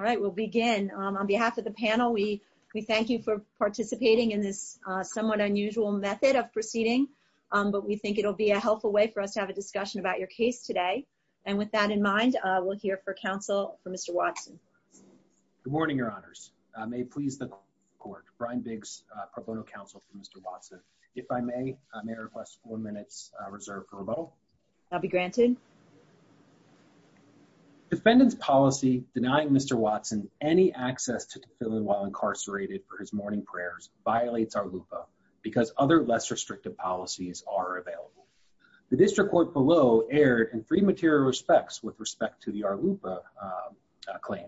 All right, we'll begin. On behalf of the panel, we thank you for participating in this somewhat unusual method of proceeding. But we think it'll be a helpful way for us to have a discussion about your case today. And with that in mind, we'll hear for counsel for Mr. Watson. Good morning, your honors. May it please the court. Brian Biggs, pro bono counsel for Mr. Watson. If I may, I may request four minutes reserved for rebuttal. I'll be granted. Mr. Biggs. Defendant's policy denying Mr. Watson any access to fill in while incarcerated for his morning prayers violates our LUPA because other less restrictive policies are available. The district court below erred in three material respects with respect to the our LUPA claim.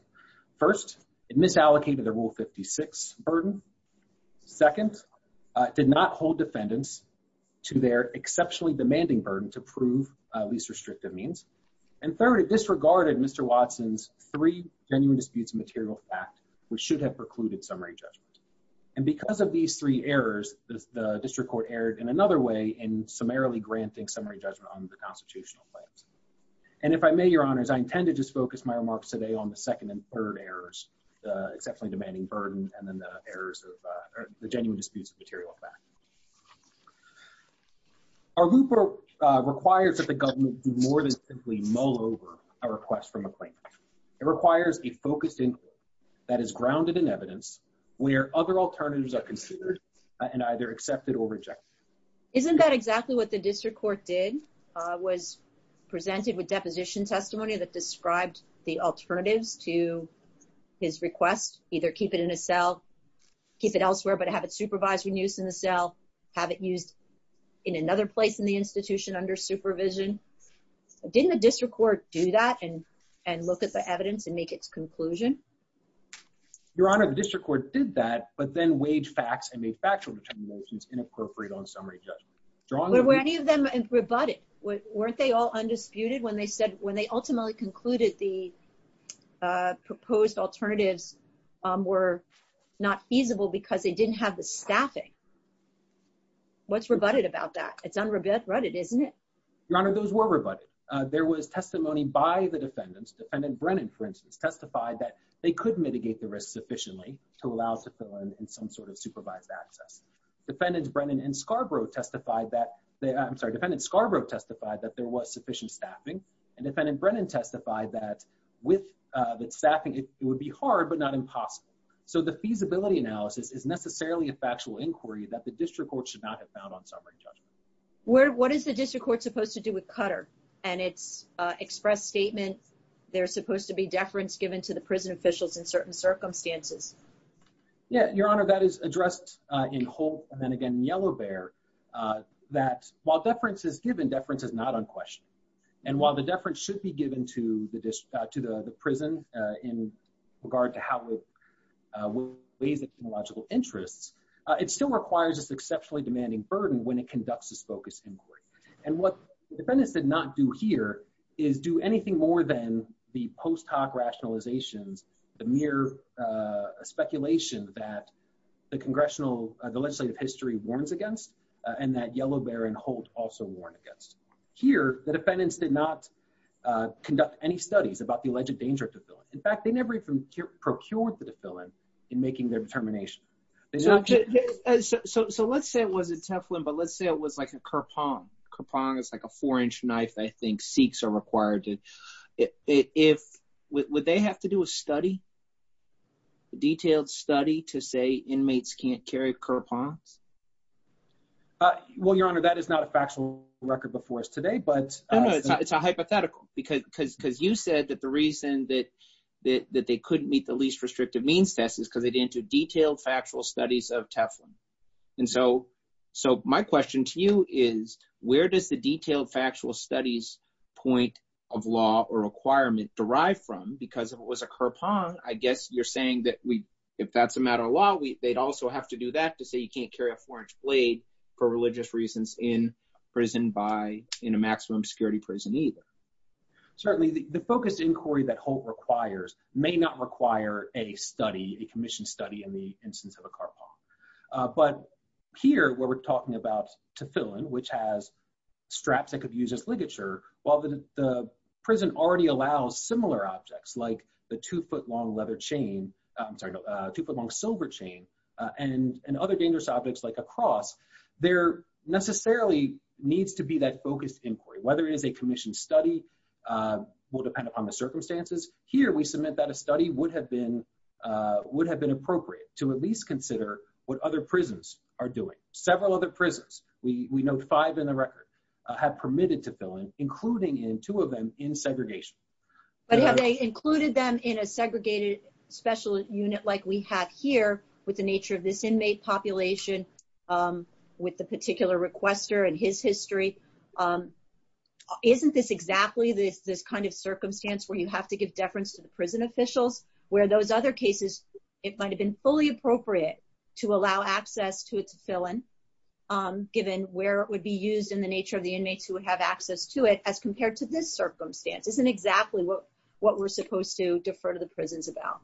First, it misallocated the rule 56 burden. Second, it did not hold defendants to their exceptionally demanding burden to prove least restrictive means. And third, it disregarded Mr. Watson's three genuine disputes material fact, which should have precluded summary judgment. And because of these three errors, the district court erred in another way in summarily granting summary judgment on the constitutional claims. And if I may, your honors, I intend to just focus my remarks today on the second and third errors, exceptionally demanding burden, and then the errors of the genuine disputes of material fact. Our LUPA requires that the government do more than simply mull over a request from a claimant. It requires a focused inquiry that is grounded in evidence where other alternatives are considered and either accepted or rejected. Isn't that exactly what the district court did, was presented with deposition testimony that described the alternatives to his request, either keep it in a cell, keep it elsewhere, but have it supervised when used in the cell, have it used in another place in the institution under supervision? Didn't the district court do that and look at the evidence and make its conclusion? Your honor, the district court did that, but then weighed facts and made factual determinations inappropriate on summary judgment. Were any of them rebutted? Weren't they all undisputed when they ultimately concluded the proposed alternatives were not feasible because they didn't have the staffing? What's rebutted about that? It's unrebutted, isn't it? Your honor, those were rebutted. There was testimony by the defendants. Defendant Brennan, for instance, testified that they could mitigate the risk sufficiently to allow to fill in some sort of supervised access. Defendants Brennan and Scarborough testified that, I'm sorry, defendants Scarborough testified that there was sufficient staffing, and defendant Brennan testified that with the staffing, it would be hard, but not impossible. So the feasibility analysis is necessarily a factual inquiry that the district court should not have found on summary judgment. What is the district court supposed to do with Cutter and its express statement there's supposed to be deference given to the prison officials in certain circumstances? Yeah, your honor, that is addressed in Holt and then again in Yellow Bear, that while deference is given, deference is not unquestioned. And while the deference should be given to the prison in regard to how it weighs in logical interests, it still requires this exceptionally demanding burden when it conducts this focus inquiry. And what defendants did not do here is do anything more than the post hoc rationalizations, the mere speculation that the legislative history warns against and that Yellow Bear and Holt also warn against. Here, the defendants did not conduct any studies about the alleged danger of deference. In fact, they never even procured the deference in making their determination. So let's say it wasn't Teflon, but let's say it was like a kerpong. Kerpong is like a four inch knife. I think Sikhs are required to, would they have to do a study, detailed study to say inmates can't carry kerpongs? Well, your honor, that is not a factual record before us today, but- No, no, it's a hypothetical because you said that the reason that they couldn't meet the least restrictive means test is because they didn't do detailed factual studies of Teflon. And so my question to you is, where does the detailed factual studies point of law or requirement derive from? Because if it was a kerpong, I guess you're saying that if that's a matter of law, they'd also have to do that to say you can't carry a four inch blade for religious reasons in prison by, in a maximum security prison either. Certainly the focused inquiry that Holt requires may not require a study, a commissioned study in the instance of a kerpong. But here where we're talking about Teflon, which has straps that could use as ligature, while the prison already allows similar objects like the two foot long leather chain, I'm sorry, two foot long silver chain and other dangerous objects like a cross, there necessarily needs to be that focused inquiry, whether it is a commissioned study will depend upon the circumstances. Here we submit that a study would have been appropriate to at least consider what other prisons are doing. Several other prisons, we know five in the record have permitted Teflon, including in two of them in segregation. But have they included them in a segregated special unit like we have here with the nature of this inmate population with the particular requester and his history? Isn't this exactly this kind of circumstance where you have to give deference to the prison officials where those other cases, it might've been fully appropriate to allow access to Teflon, given where it would be used in the nature of the inmates who would have access to it as compared to this circumstance. Isn't exactly what we're supposed to defer to the prisons about.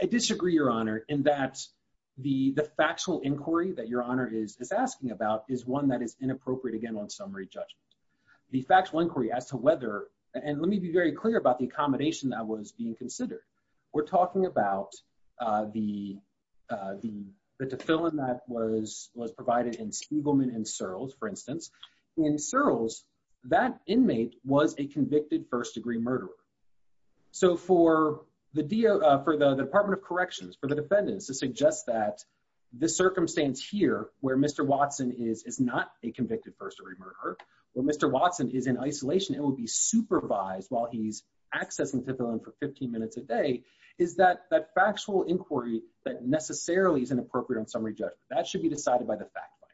I disagree your honor in that the factual inquiry that your honor is asking about is one that is inappropriate again on summary judgment. The factual inquiry as to whether, and let me be very clear about the accommodation that was being considered. We're talking about the Teflon that was provided in Spiegelman and Searles for instance. In Searles, that inmate was a convicted first degree murderer. So for the Department of Corrections, for the defendants to suggest that the circumstance here where Mr. Watson is not a convicted first degree murderer, where Mr. Watson is in isolation and will be supervised while he's accessing Teflon for 15 minutes a day, is that factual inquiry that necessarily is inappropriate on summary judgment. That should be decided by the fact line.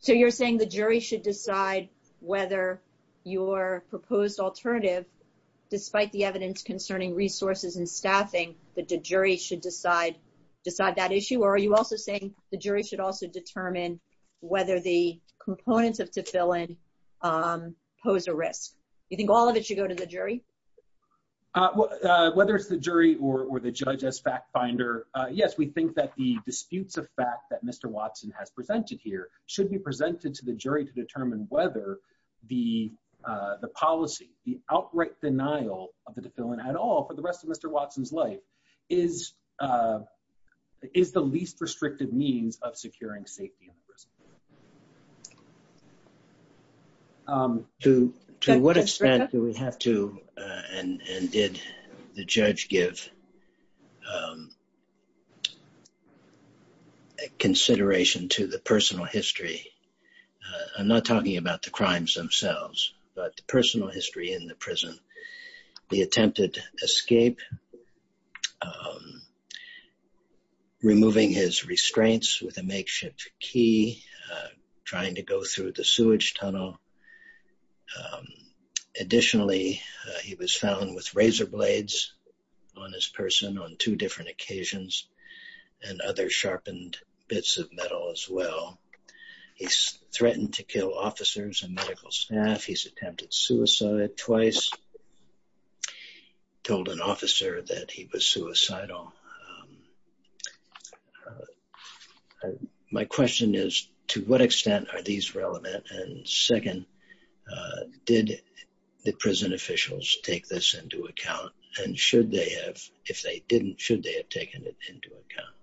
So you're saying the jury should decide whether your proposed alternative, despite the evidence concerning resources and staffing, that the jury should decide that issue? Or are you also saying the jury should also determine whether the components of Teflon pose a risk? You think all of it should go to the jury? Whether it's the jury or the judge as fact finder, yes, we think that the disputes of fact that Mr. Watson has presented here should be presented to the jury to determine whether the policy, the outright denial of the Teflon at all for the rest of Mr. Watson's life is the least restrictive means of securing safety in prison. To what extent do we have to, and did the judge give a consideration to the personal history? I'm not talking about the crimes themselves, but the personal history in the prison, the attempted escape, removing his restraints with a makeshift key, trying to go through the sewage tunnel. Additionally, he was found with razor blades on his person on two different occasions and other sharpened bits of metal as well. He's threatened to kill officers and medical staff. He's attempted suicide twice, told an officer that he was suicidal. My question is, to what extent are these relevant? And second, did the prison officials take this into account? And should they have, if they didn't, should they have taken it into account?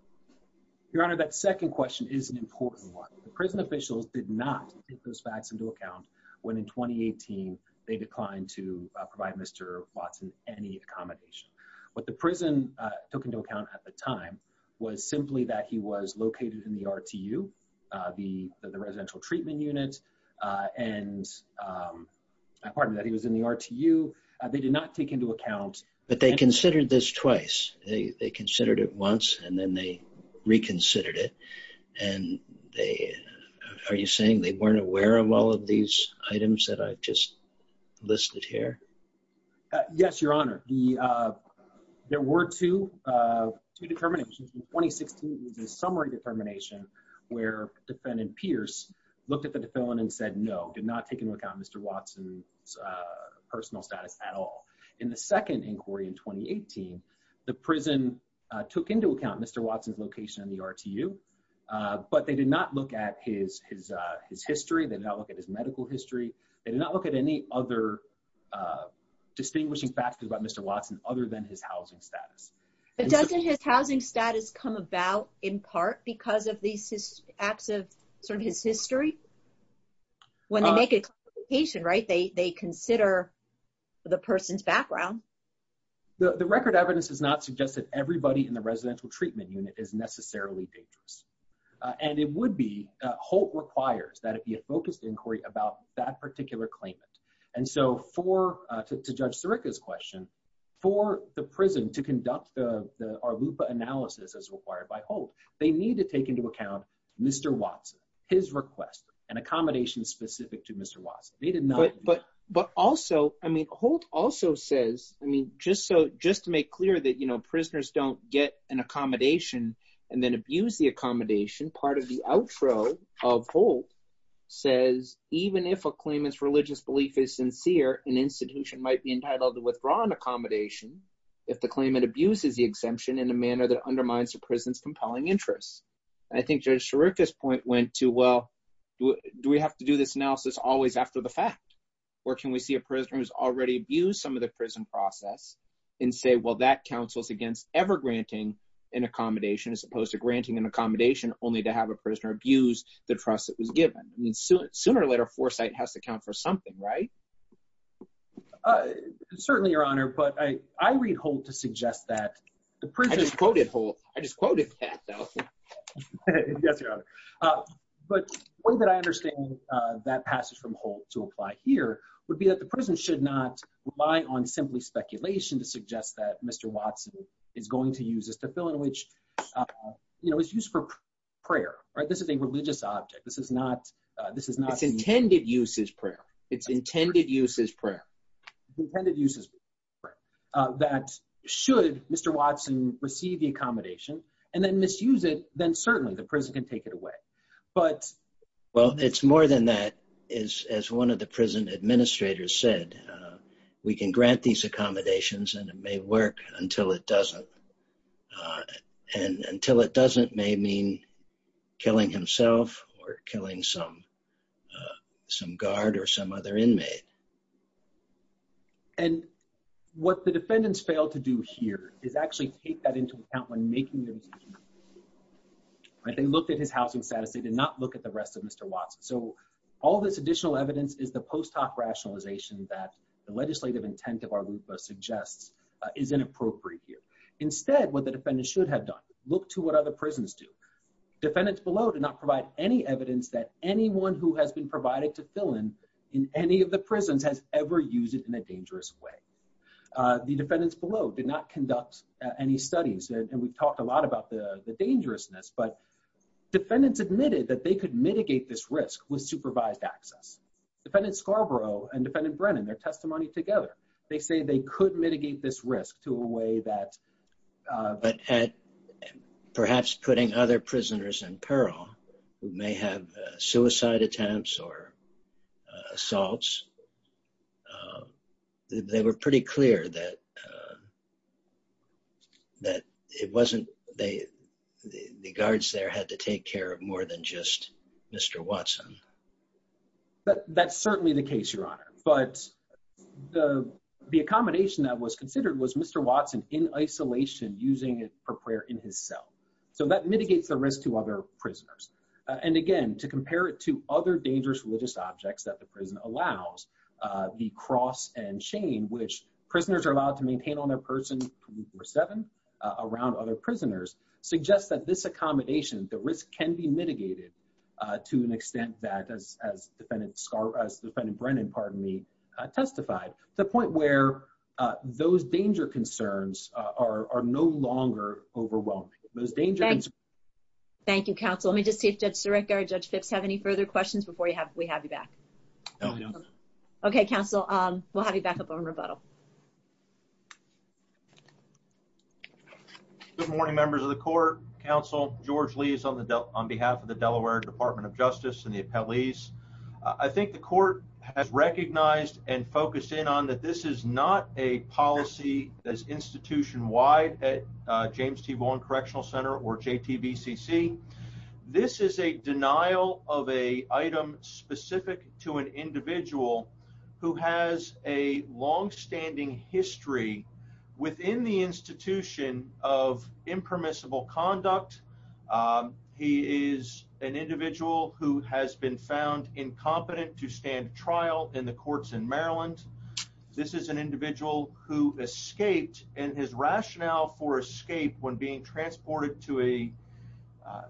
Your Honor, that second question is an important one. The prison officials did not take those facts into account when in 2018, they declined to provide Mr. Watson any accommodation. What the prison took into account at the time was simply that he was located in the RTU, the residential treatment unit, and, pardon me, that he was in the RTU. They did not take into account- But they considered this twice. They considered it once and then they reconsidered it. And they, are you saying they weren't aware of all of these items that I've just listed here? Yes, Your Honor. There were two determinations. In 2016, it was a summary determination where defendant Pierce looked at the defendant and said, no, did not take into account Mr. Watson's personal status at all. In the second inquiry in 2018, the prison took into account Mr. Watson's location in the RTU, but they did not look at his history. They did not look at his medical history. They did not look at any other distinguishing factors about Mr. Watson other than his housing status. But doesn't his housing status come about in part because of these acts of sort of his history? When they make a clarification, right? They consider the person's background. The record evidence does not suggest that everybody in the residential treatment unit is necessarily dangerous. And it would be, Holt requires that it be a focused inquiry about that particular claimant. And so for, to Judge Sirica's question, for the prison to conduct the Arlupa analysis as required by Holt, they need to take into account Mr. Watson, his request, an accommodation specific to Mr. Watson. They did not- But also, I mean, Holt also says, I mean, just to make clear that, you know, prisoners don't get an accommodation and then abuse the accommodation. Part of the outro of Holt says, even if a claimant's religious belief is sincere, an institution might be entitled to withdraw an accommodation if the claimant abuses the exemption in a manner that undermines the prison's compelling interests. And I think Judge Sirica's point went to, well, do we have to do this analysis always after the fact? Or can we see a prisoner who's already abused some of the prison process and say, well, that counsels against ever granting an accommodation as opposed to granting an accommodation only to have a prisoner abuse the trust that was given? I mean, sooner or later, foresight has to count for something, right? Certainly, Your Honor, but I read Holt to suggest that the prison- I just quoted Holt. I just quoted Kat, though. Yes, Your Honor. But the way that I understand that passage from Holt to apply here would be that the prison should not rely on simply speculation to suggest that Mr. Watson is going to use this as a bill in which, you know, it's used for prayer, right? This is a religious object. This is not- This is not- It's intended use as prayer. It's intended use as prayer. It's intended use as prayer. That should Mr. Watson receive the accommodation and then misuse it, then certainly the prison can take it away. But- Well, it's more than that. As one of the prison administrators said, we can grant these accommodations and it may work until it doesn't. And until it doesn't may mean killing himself or killing some guard or some other inmate. And what the defendants failed to do here is actually take that into account when making the decision. When they looked at his housing status, they did not look at the rest of Mr. Watson. So all this additional evidence is the post hoc rationalization that the legislative intent of our Lupa suggests is inappropriate here. Instead, what the defendant should have done, look to what other prisons do. Defendants below did not provide any evidence that anyone who has been provided to fill in in any of the prisons has ever used it in a dangerous way. The defendants below did not conduct any studies. And we've talked a lot about the dangerousness, but defendants admitted that they could mitigate this risk with supervised access. Defendant Scarborough and defendant Brennan, their testimony together, they say they could mitigate this risk to a way that- But perhaps putting other prisoners in peril who may have suicide attempts or assaults, they were pretty clear that it wasn't, the guards there had to take care of more than just Mr. Watson. That's certainly the case, Your Honor. But the accommodation that was considered was Mr. Watson in isolation, using it for prayer in his cell. So that mitigates the risk to other prisoners. And again, to compare it to other dangerous religious objects that the prison allows, the cross and chain, which prisoners are allowed to maintain on their person 24-7 around other prisoners, suggests that this accommodation, the risk can be mitigated to an extent that as defendant Brennan, pardon me, testified, to the point where those danger concerns are no longer overwhelming. Those danger concerns- Thank you, counsel. Let me just see if Judge Sirica or Judge Phipps have any further questions before we have you back. No, we don't. Okay, counsel, we'll have you back up on rebuttal. Good morning, members of the court, counsel. George Lees on behalf of the Delaware Department of Justice and the appellees. I think the court has recognized and focused in on that this is not a policy as institution-wide at James T. Vaughan Correctional Center or JTVCC. This is a denial of a item specific to an individual who has a longstanding history within the institution of impermissible conduct. He is an individual who has been found incompetent to stand trial in the courts in Maryland. This is an individual who escaped and his rationale for escape when being transported to a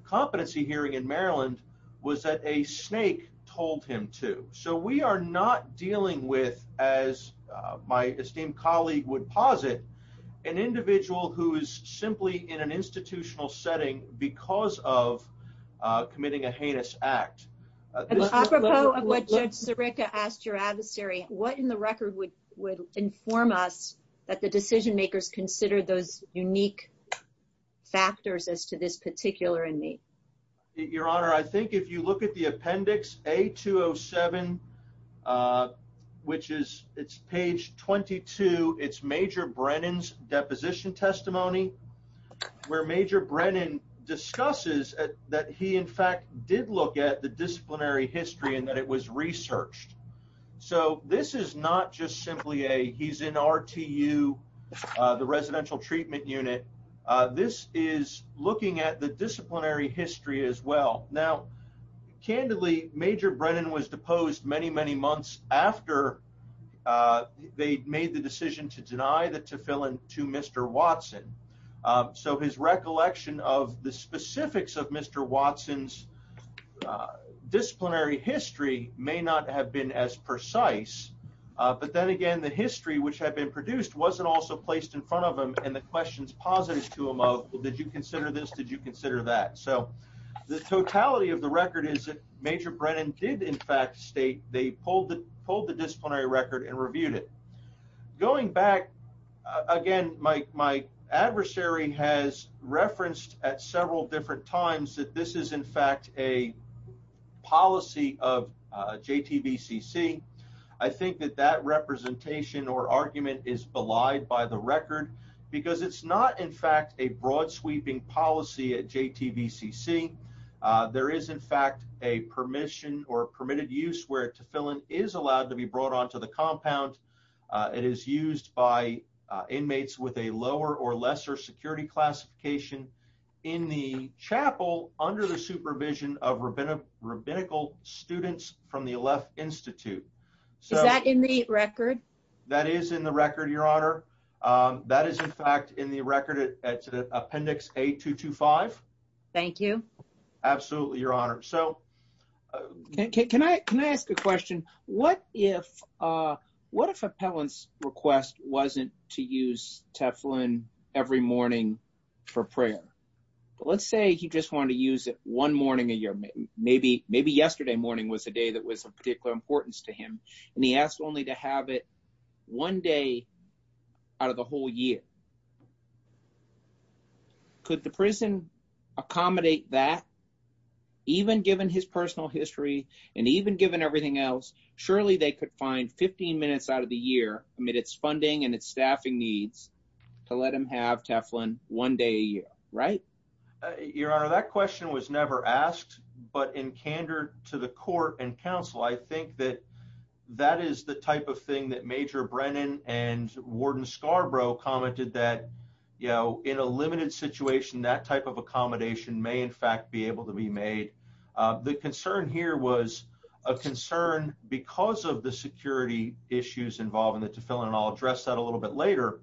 competency hearing in Maryland was that a snake told him to. So we are not dealing with, as my esteemed colleague would posit, an individual who is simply in an institutional setting because of committing a heinous act. Apropos of what Judge Zirica asked your adversary, what in the record would inform us that the decision-makers consider those unique factors as to this particular inmate? Your Honor, I think if you look at the appendix A-207, which is, it's page 22, it's Major Brennan's deposition testimony, where Major Brennan discusses that he, in fact, did look at the disciplinary history and that it was researched. So this is not just simply a, he's in RTU, the Residential Treatment Unit. This is looking at the disciplinary history as well. Now, candidly, Major Brennan was deposed many, many months after they made the decision to deny the tefillin to Mr. Watson. So his recollection of the specifics of Mr. Watson's disciplinary history may not have been as precise, but then again, the history which had been produced wasn't also placed in front of him and the questions posited to him of, did you consider this, did you consider that? So the totality of the record is that Major Brennan did, in fact, state they pulled the disciplinary record and reviewed it. Going back, again, my adversary has referenced at several different times that this is, in fact, a policy of JTVCC. I think that that representation or argument is belied by the record because it's not, in fact, a broad-sweeping policy at JTVCC. There is, in fact, a permission or permitted use where tefillin is allowed to be brought onto the compound. It is used by inmates with a lower or lesser security classification in the chapel under the supervision of rabbinical students from the Aleph Institute. So- Is that in the record? That is in the record, Your Honor. That is, in fact, in the record at Appendix A-225. Thank you. Absolutely, Your Honor. So- Can I ask a question? What if appellant's request wasn't to use tefillin every morning for prayer? Let's say he just wanted to use it one morning a year. Maybe yesterday morning was a day that was of particular importance to him, and he asked only to have it one day out of the whole year. Could the prison accommodate that? Even given his personal history and even given everything else, surely they could find 15 minutes out of the year amid its funding and its staffing needs to let him have tefillin one day a year, right? Your Honor, that question was never asked, but in candor to the court and counsel, I think that that is the type of thing that Major Brennan and Warden Scarborough commented that, you know, in a limited situation, that type of accommodation may, in fact, be able to be made. The concern here was a concern because of the security issues involving the tefillin, and I'll address that a little bit later,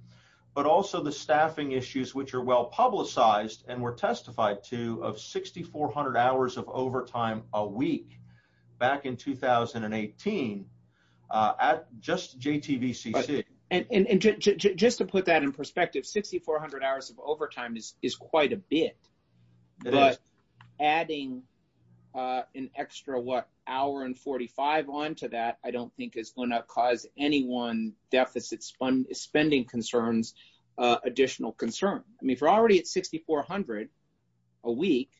but also the staffing issues, which are well-publicized and were testified to of 6,400 hours of overtime a week back in 2018 at just JTVCC. And just to put that in perspective, 6,400 hours of overtime is quite a bit, but adding an extra, what, hour and 45 on to that I don't think is gonna cause anyone deficit spending concerns additional concern. I mean, if you're already at 6,400 a week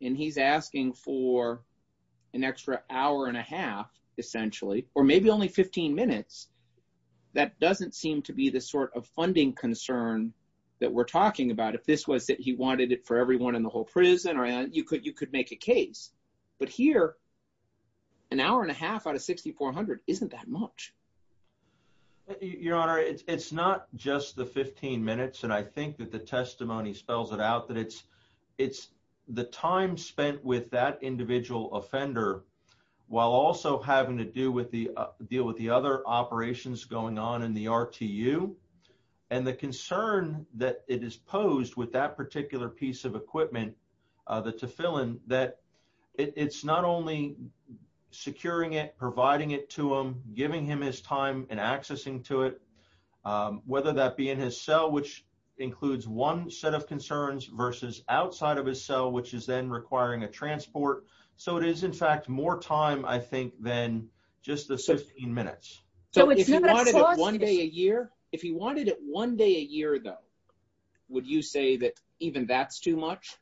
and he's asking for an extra hour and a half, essentially, or maybe only 15 minutes, that doesn't seem to be the sort of funding concern that we're talking about. If this was that he wanted it for everyone in the whole prison, you could make a case. But here, an hour and a half out of 6,400 isn't that much. Your Honor, it's not just the 15 minutes, and I think that the testimony spells it out, that it's the time spent with that individual offender while also having to deal with the other operations going on in the RTU. And the concern that it is posed with that particular piece of equipment, the Tefillin, that it's not only securing it, providing it to him, giving him his time and accessing to it, whether that be in his cell, which includes one set of concerns, versus outside of his cell, which is then requiring a transport. So it is, in fact, more time, I think, than just the 15 minutes. So if he wanted it one day a year, if he wanted it one day a year, though, would you say that even that's too much?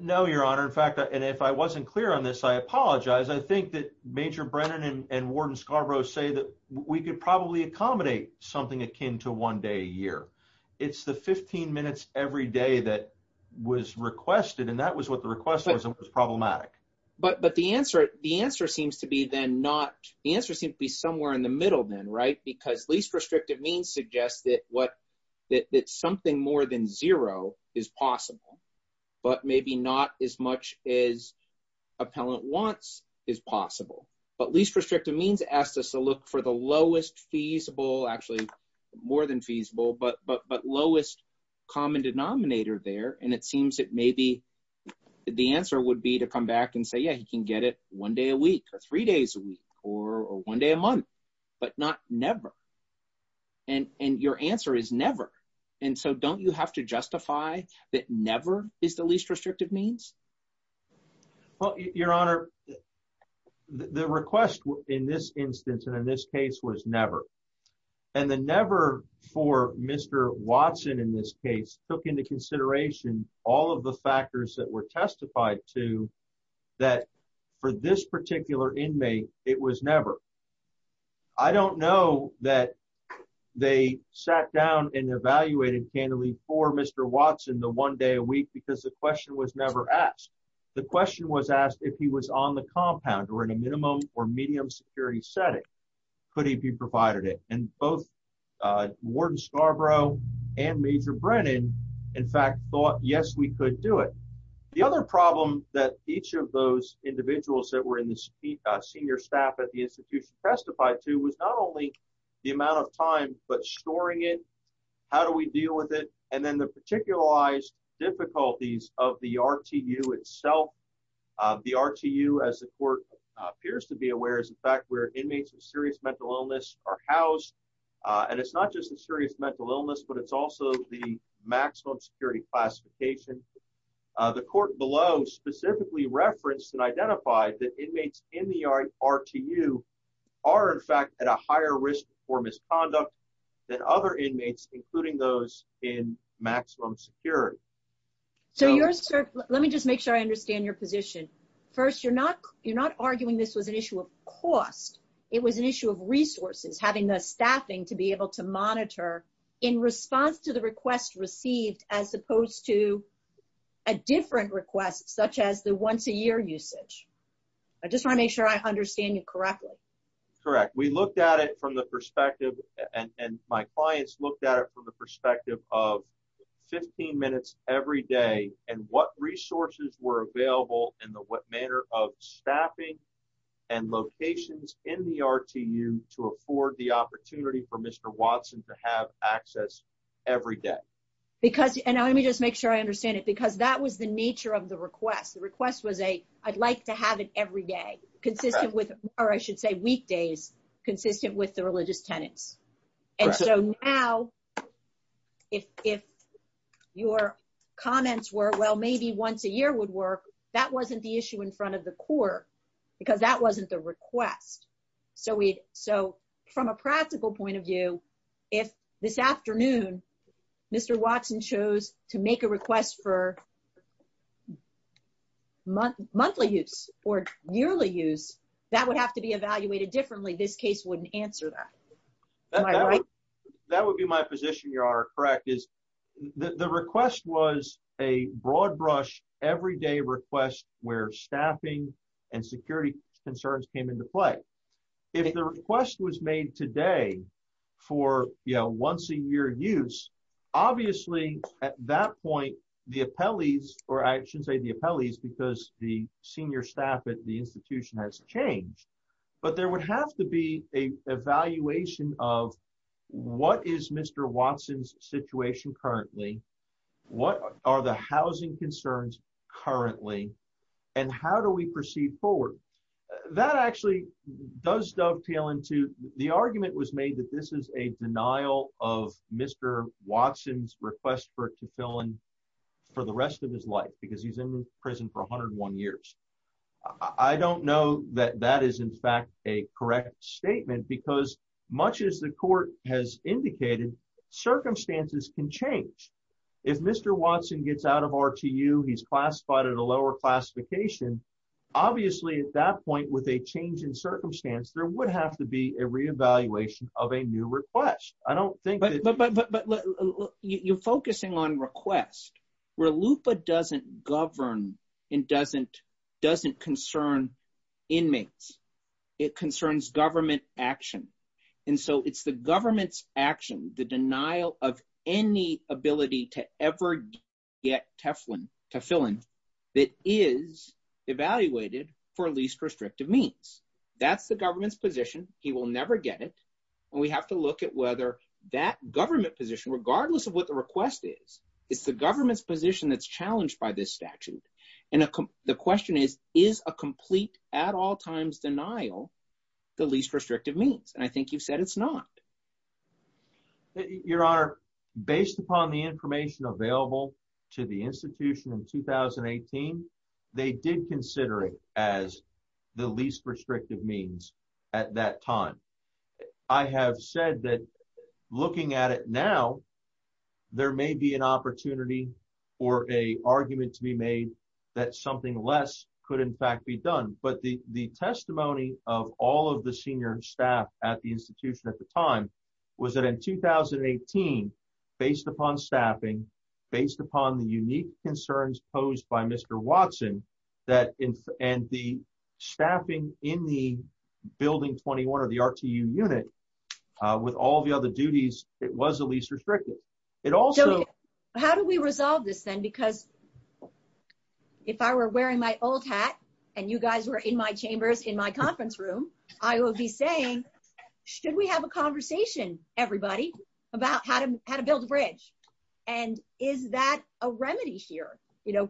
No, Your Honor. In fact, and if I wasn't clear on this, I apologize. I think that Major Brennan and Warden Scarborough say that we could probably accommodate something akin to one day a year. It's the 15 minutes every day that was requested, and that was what the request was, and it was problematic. But the answer seems to be then not, the answer seems to be somewhere in the middle then, right? Because least restrictive means suggests that something more than zero is possible, but maybe not as much as appellant wants is possible. But least restrictive means asks us to look for the lowest feasible, actually more than feasible, but lowest common denominator there, and it seems that maybe the answer would be to come back and say, yeah, he can get it one day a week or three days a week or one day a month, but not never. And your answer is never. And so don't you have to justify that never is the least restrictive means? Well, Your Honor, the request in this instance and in this case was never. And the never for Mr. Watson in this case took into consideration all of the factors that were testified to that for this particular inmate, it was never. I don't know that they sat down and evaluated candidly for Mr. Watson the one day a week because the question was never asked. The question was asked if he was on the compound or in a minimum or medium security setting, could he be provided it? And both Warden Scarborough and Major Brennan, in fact, thought, yes, we could do it. The other problem that each of those individuals that were in the senior staff at the institution testified to was not only the amount of time, but storing it, how do we deal with it? And then the particularized difficulties of the RTU itself. The RTU, as the court appears to be aware, is in fact where inmates with serious mental illness are housed. And it's not just a serious mental illness, but it's also the maximum security classification. The court below specifically referenced and identified that inmates in the RTU are in fact at a higher risk for misconduct than other inmates, including those in maximum security. So your, sir, let me just make sure I understand your position. First, you're not arguing this was an issue of cost. It was an issue of resources, having the staffing to be able to monitor in response to the requests received as opposed to a different request, such as the once a year usage. I just wanna make sure I understand you correctly. Correct, we looked at it from the perspective, and my clients looked at it from the perspective of 15 minutes every day, and what resources were available in the manner of staffing and locations in the RTU to afford the opportunity for Mr. Watson to have access every day? Because, and let me just make sure I understand it, because that was the nature of the request. The request was a, I'd like to have it every day, consistent with, or I should say weekdays, consistent with the religious tenants. And so now, if your comments were, well, maybe once a year would work, that wasn't the issue in front of the Corps, because that wasn't the request. So we'd, so from a practical point of view, if this afternoon, Mr. Watson chose to make a request for monthly use or yearly use, that would have to be evaluated differently. This case wouldn't answer that, am I right? That would be my position, Your Honor, correct, is the request was a broad brush, everyday request where staffing and security concerns came into play. If the request was made today for once a year use, obviously at that point, the appellees, or I should say the appellees, because the senior staff at the institution has changed, but there would have to be a evaluation of what is Mr. Watson's situation currently, what are the housing concerns currently, and how do we proceed forward? That actually does dovetail into, the argument was made that this is a denial of Mr. Watson's request for it to fill in for the rest of his life, because he's in prison for 101 years. I don't know that that is in fact a correct statement, because much as the court has indicated, circumstances can change. If Mr. Watson gets out of RTU, he's classified at a lower classification, obviously at that point with a change in circumstance, there would have to be a reevaluation of a new request. I don't think that- But you're focusing on request, where LUPA doesn't govern and doesn't concern inmates. It concerns government action. And so it's the government's action, the denial of any ability to ever get Teflon to fill in, that is evaluated for least restrictive means. That's the government's position. He will never get it. And we have to look at whether that government position, regardless of what the request is, it's the government's position that's challenged by this statute. And the question is, is a complete at all times denial the least restrictive means? And I think you've said it's not. Your Honor, based upon the information available to the institution in 2018, they did consider it as the least restrictive means at that time. I have said that looking at it now, there may be an opportunity or a argument to be made that something less could in fact be done. But the testimony of all of the senior staff at the institution at the time was that in 2018, based upon staffing, based upon the unique concerns posed by Mr. Watson, and the staffing in the Building 21 or the RTU unit with all the other duties, it was the least restrictive. It also- How do we resolve this then? Because if I were wearing my old hat, and you guys were in my chambers in my conference room, I will be saying, should we have a conversation, everybody, about how to build a bridge? And is that a remedy here?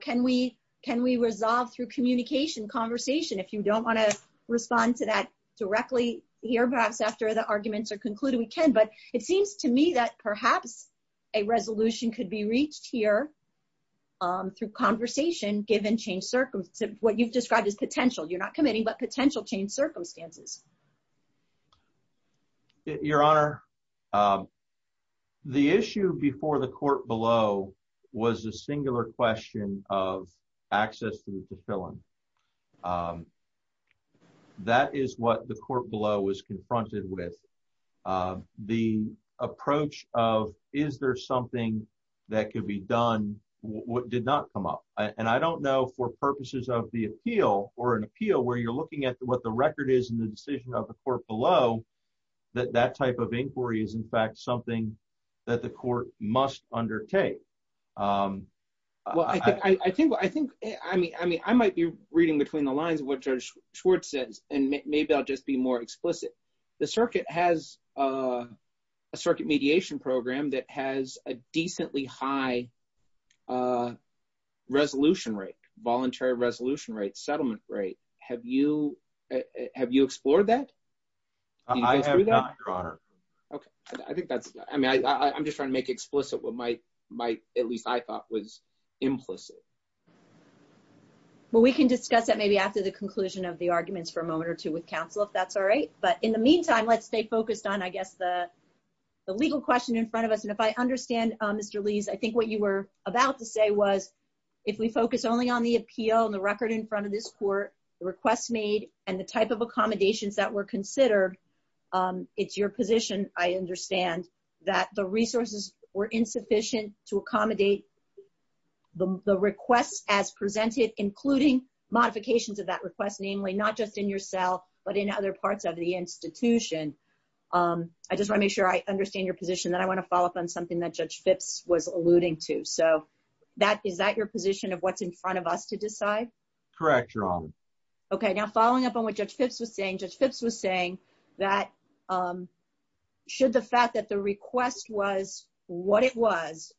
Can we resolve through communication, conversation? If you don't wanna respond to that directly here, perhaps after the arguments are concluded, we can. But it seems to me that perhaps a resolution could be reached here through conversation, given changed circumstances, what you've described as potential. You're not committing, but potential changed circumstances. Your Honor, the issue before the court below was a singular question of access to the fulfillment. That is what the court below was confronted with. The approach of, is there something that could be done, did not come up. And I don't know for purposes of the appeal, or an appeal where you're looking at what the record is in the decision of the court below, that that type of inquiry is in fact something that the court must undertake. Well, I think, I mean, I might be reading between the lines of what Judge Schwartz says, and maybe I'll just be more explicit. The circuit has a circuit mediation program that has a decently high resolution rate, voluntary resolution rate, settlement rate. Have you explored that? I have not, Your Honor. Okay. I think that's, I mean, I'm just trying to make explicit what might, at least I thought was implicit. Well, we can discuss that maybe after the conclusion of the arguments for a moment or two with counsel, if that's all right. But in the meantime, let's stay focused on, I guess, the legal question in front of us. And if I understand, Mr. Lees, I think what you were about to say was, if we focus only on the appeal and the record in front of this court, the requests made and the type of accommodations that were considered, it's your position, I understand, that the resources were insufficient to accommodate the requests as presented, including modifications of that request, namely not just in your cell, but in other parts of the institution. I just wanna make sure I understand your position. Then I wanna follow up on something that Judge Phipps was alluding to. So, is that your position of what's in front of us to decide? Correct, Your Honor. Okay, now, following up on what Judge Phipps was saying, Judge Phipps was saying that, should the fact that the request was what it was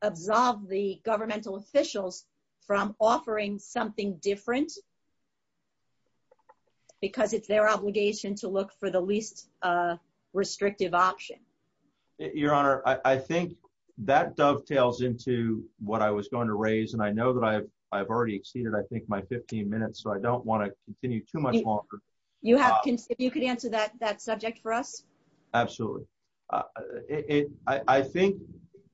absolve the governmental officials from offering something different? Because it's their obligation to look for the least restrictive option. Your Honor, I think that dovetails into what I was going to raise, and I know that I've already exceeded, I think, my 15 minutes, so I don't wanna continue too much longer. You have, if you could answer that subject for us. Absolutely. I think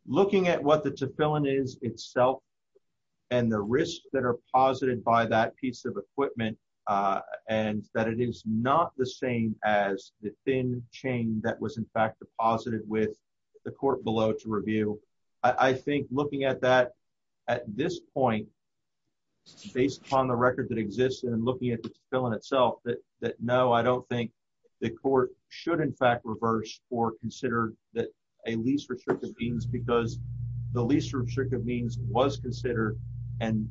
looking at what the Tefillin is itself and the risks that are posited by that piece of equipment, and that it is not the same as the thin chain that was, in fact, deposited with the court below to review, I think looking at that at this point, based upon the record that exists and looking at the Tefillin itself, that no, I don't think the court should, in fact, reverse or consider that a least restrictive means because the least restrictive means was considered, and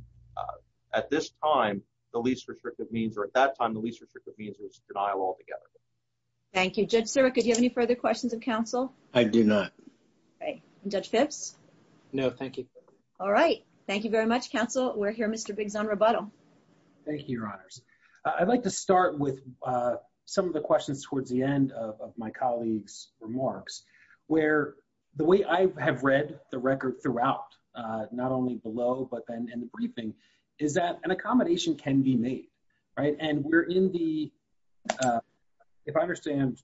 at this time, the least restrictive means, or at that time, the least restrictive means was denial altogether. Thank you. Judge Siric, do you have any further questions of counsel? I do not. Great. And Judge Phipps? No, thank you. All right. Thank you very much, counsel. We'll hear Mr. Biggs on rebuttal. Thank you, Your Honors. I'd like to start with some of the questions towards the end of my colleagues' remarks, where the way I have read the record throughout, not only below, but then in the briefing, is that an accommodation can be made, right? And we're in the, if I understand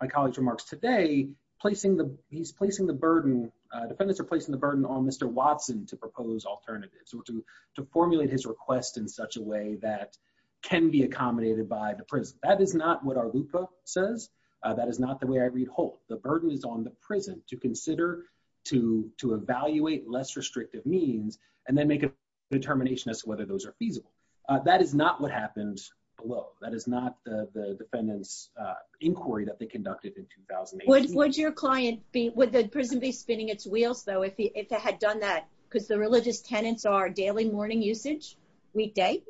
my colleagues' remarks today, placing the, he's placing the burden, defendants are placing the burden on Mr. Watson to propose alternatives or to formulate his request in such a way that can be accommodated by the prison. That is not what our loophole says. That is not the way I read Holt. The burden is on the prison to consider, to evaluate less restrictive means, and then make a determination as to whether those are feasible. That is not what happened below. That is not the defendant's inquiry that they conducted in 2008. Would your client be, would the prison be spinning its wheels, though, if it had done that? Because the religious tenants are daily morning usage, weekday.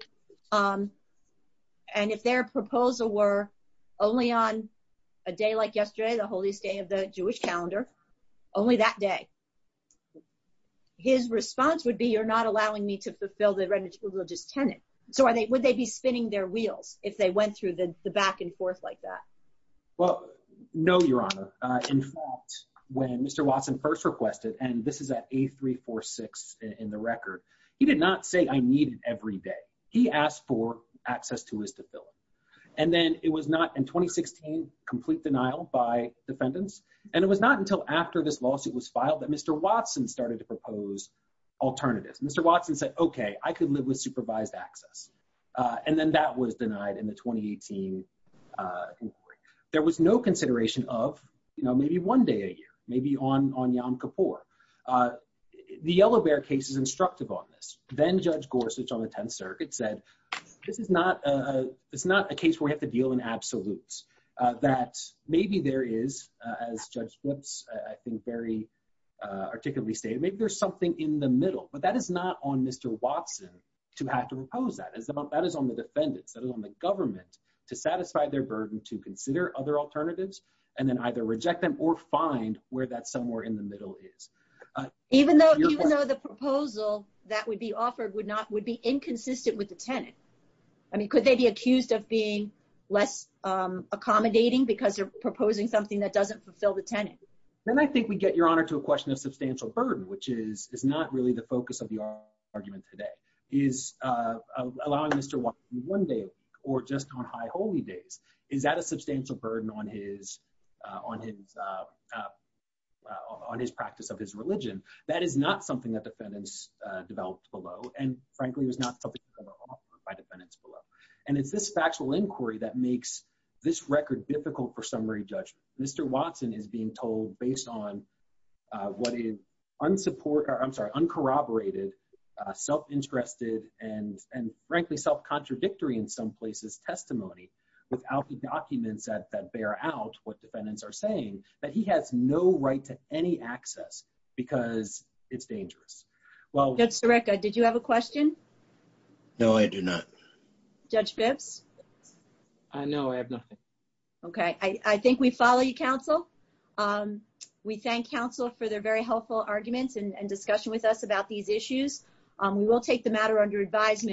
And if their proposal were only on a day like yesterday, the holiest day of the Jewish calendar, only that day, his response would be, you're not allowing me to fulfill the religious tenant. So would they be spinning their wheels if they went through the back and forth like that? Well, no, Your Honor. In fact, when Mr. Watson first requested, and this is at A346 in the record, he did not say, I need it every day. He asked for access to his defilement. And then it was not, in 2016, complete denial by defendants. And it was not until after this lawsuit was filed that Mr. Watson started to propose alternatives. Mr. Watson said, okay, I could live with supervised access. And then that was denied in the 2018 inquiry. There was no consideration of maybe one day a year, maybe on Yom Kippur. The Yellow Bear case is instructive on this. Then Judge Gorsuch on the 10th Circuit said, this is not a case where we have to deal in absolutes, that maybe there is, as Judge Blitz, I think, very articulately stated, maybe there's something in the middle. But that is not on Mr. Watson to have to propose that. That is on the defendants. That is on the government to satisfy their burden, to consider other alternatives, and then either reject them or find where that somewhere in the middle is. Even though the proposal that would be offered would be inconsistent with the tenant. I mean, could they be accused of being less accommodating because they're proposing something that doesn't fulfill the tenant? Then I think we get, Your Honor, to a question of substantial burden, which is not really the focus of the argument today. Is allowing Mr. Watson one day a week or just on high holy days, is that a substantial burden on his practice of his religion? That is not something that defendants developed below. And frankly, it was not something that was offered by defendants below. And it's this factual inquiry that makes this record difficult for summary judgment. Mr. Watson is being told based on what is unsupport, or I'm sorry, uncorroborated, self-interested, and frankly, self-contradictory in some places testimony without the documents that bear out what defendants are saying, that he has no right to any access because it's dangerous. Well- Judge Sirica, did you have a question? No, I do not. Judge Bibbs? I know I have nothing. Okay, I think we follow your counsel. We thank counsel for their very helpful arguments and discussion with us about these issues. We will take the matter under advisement.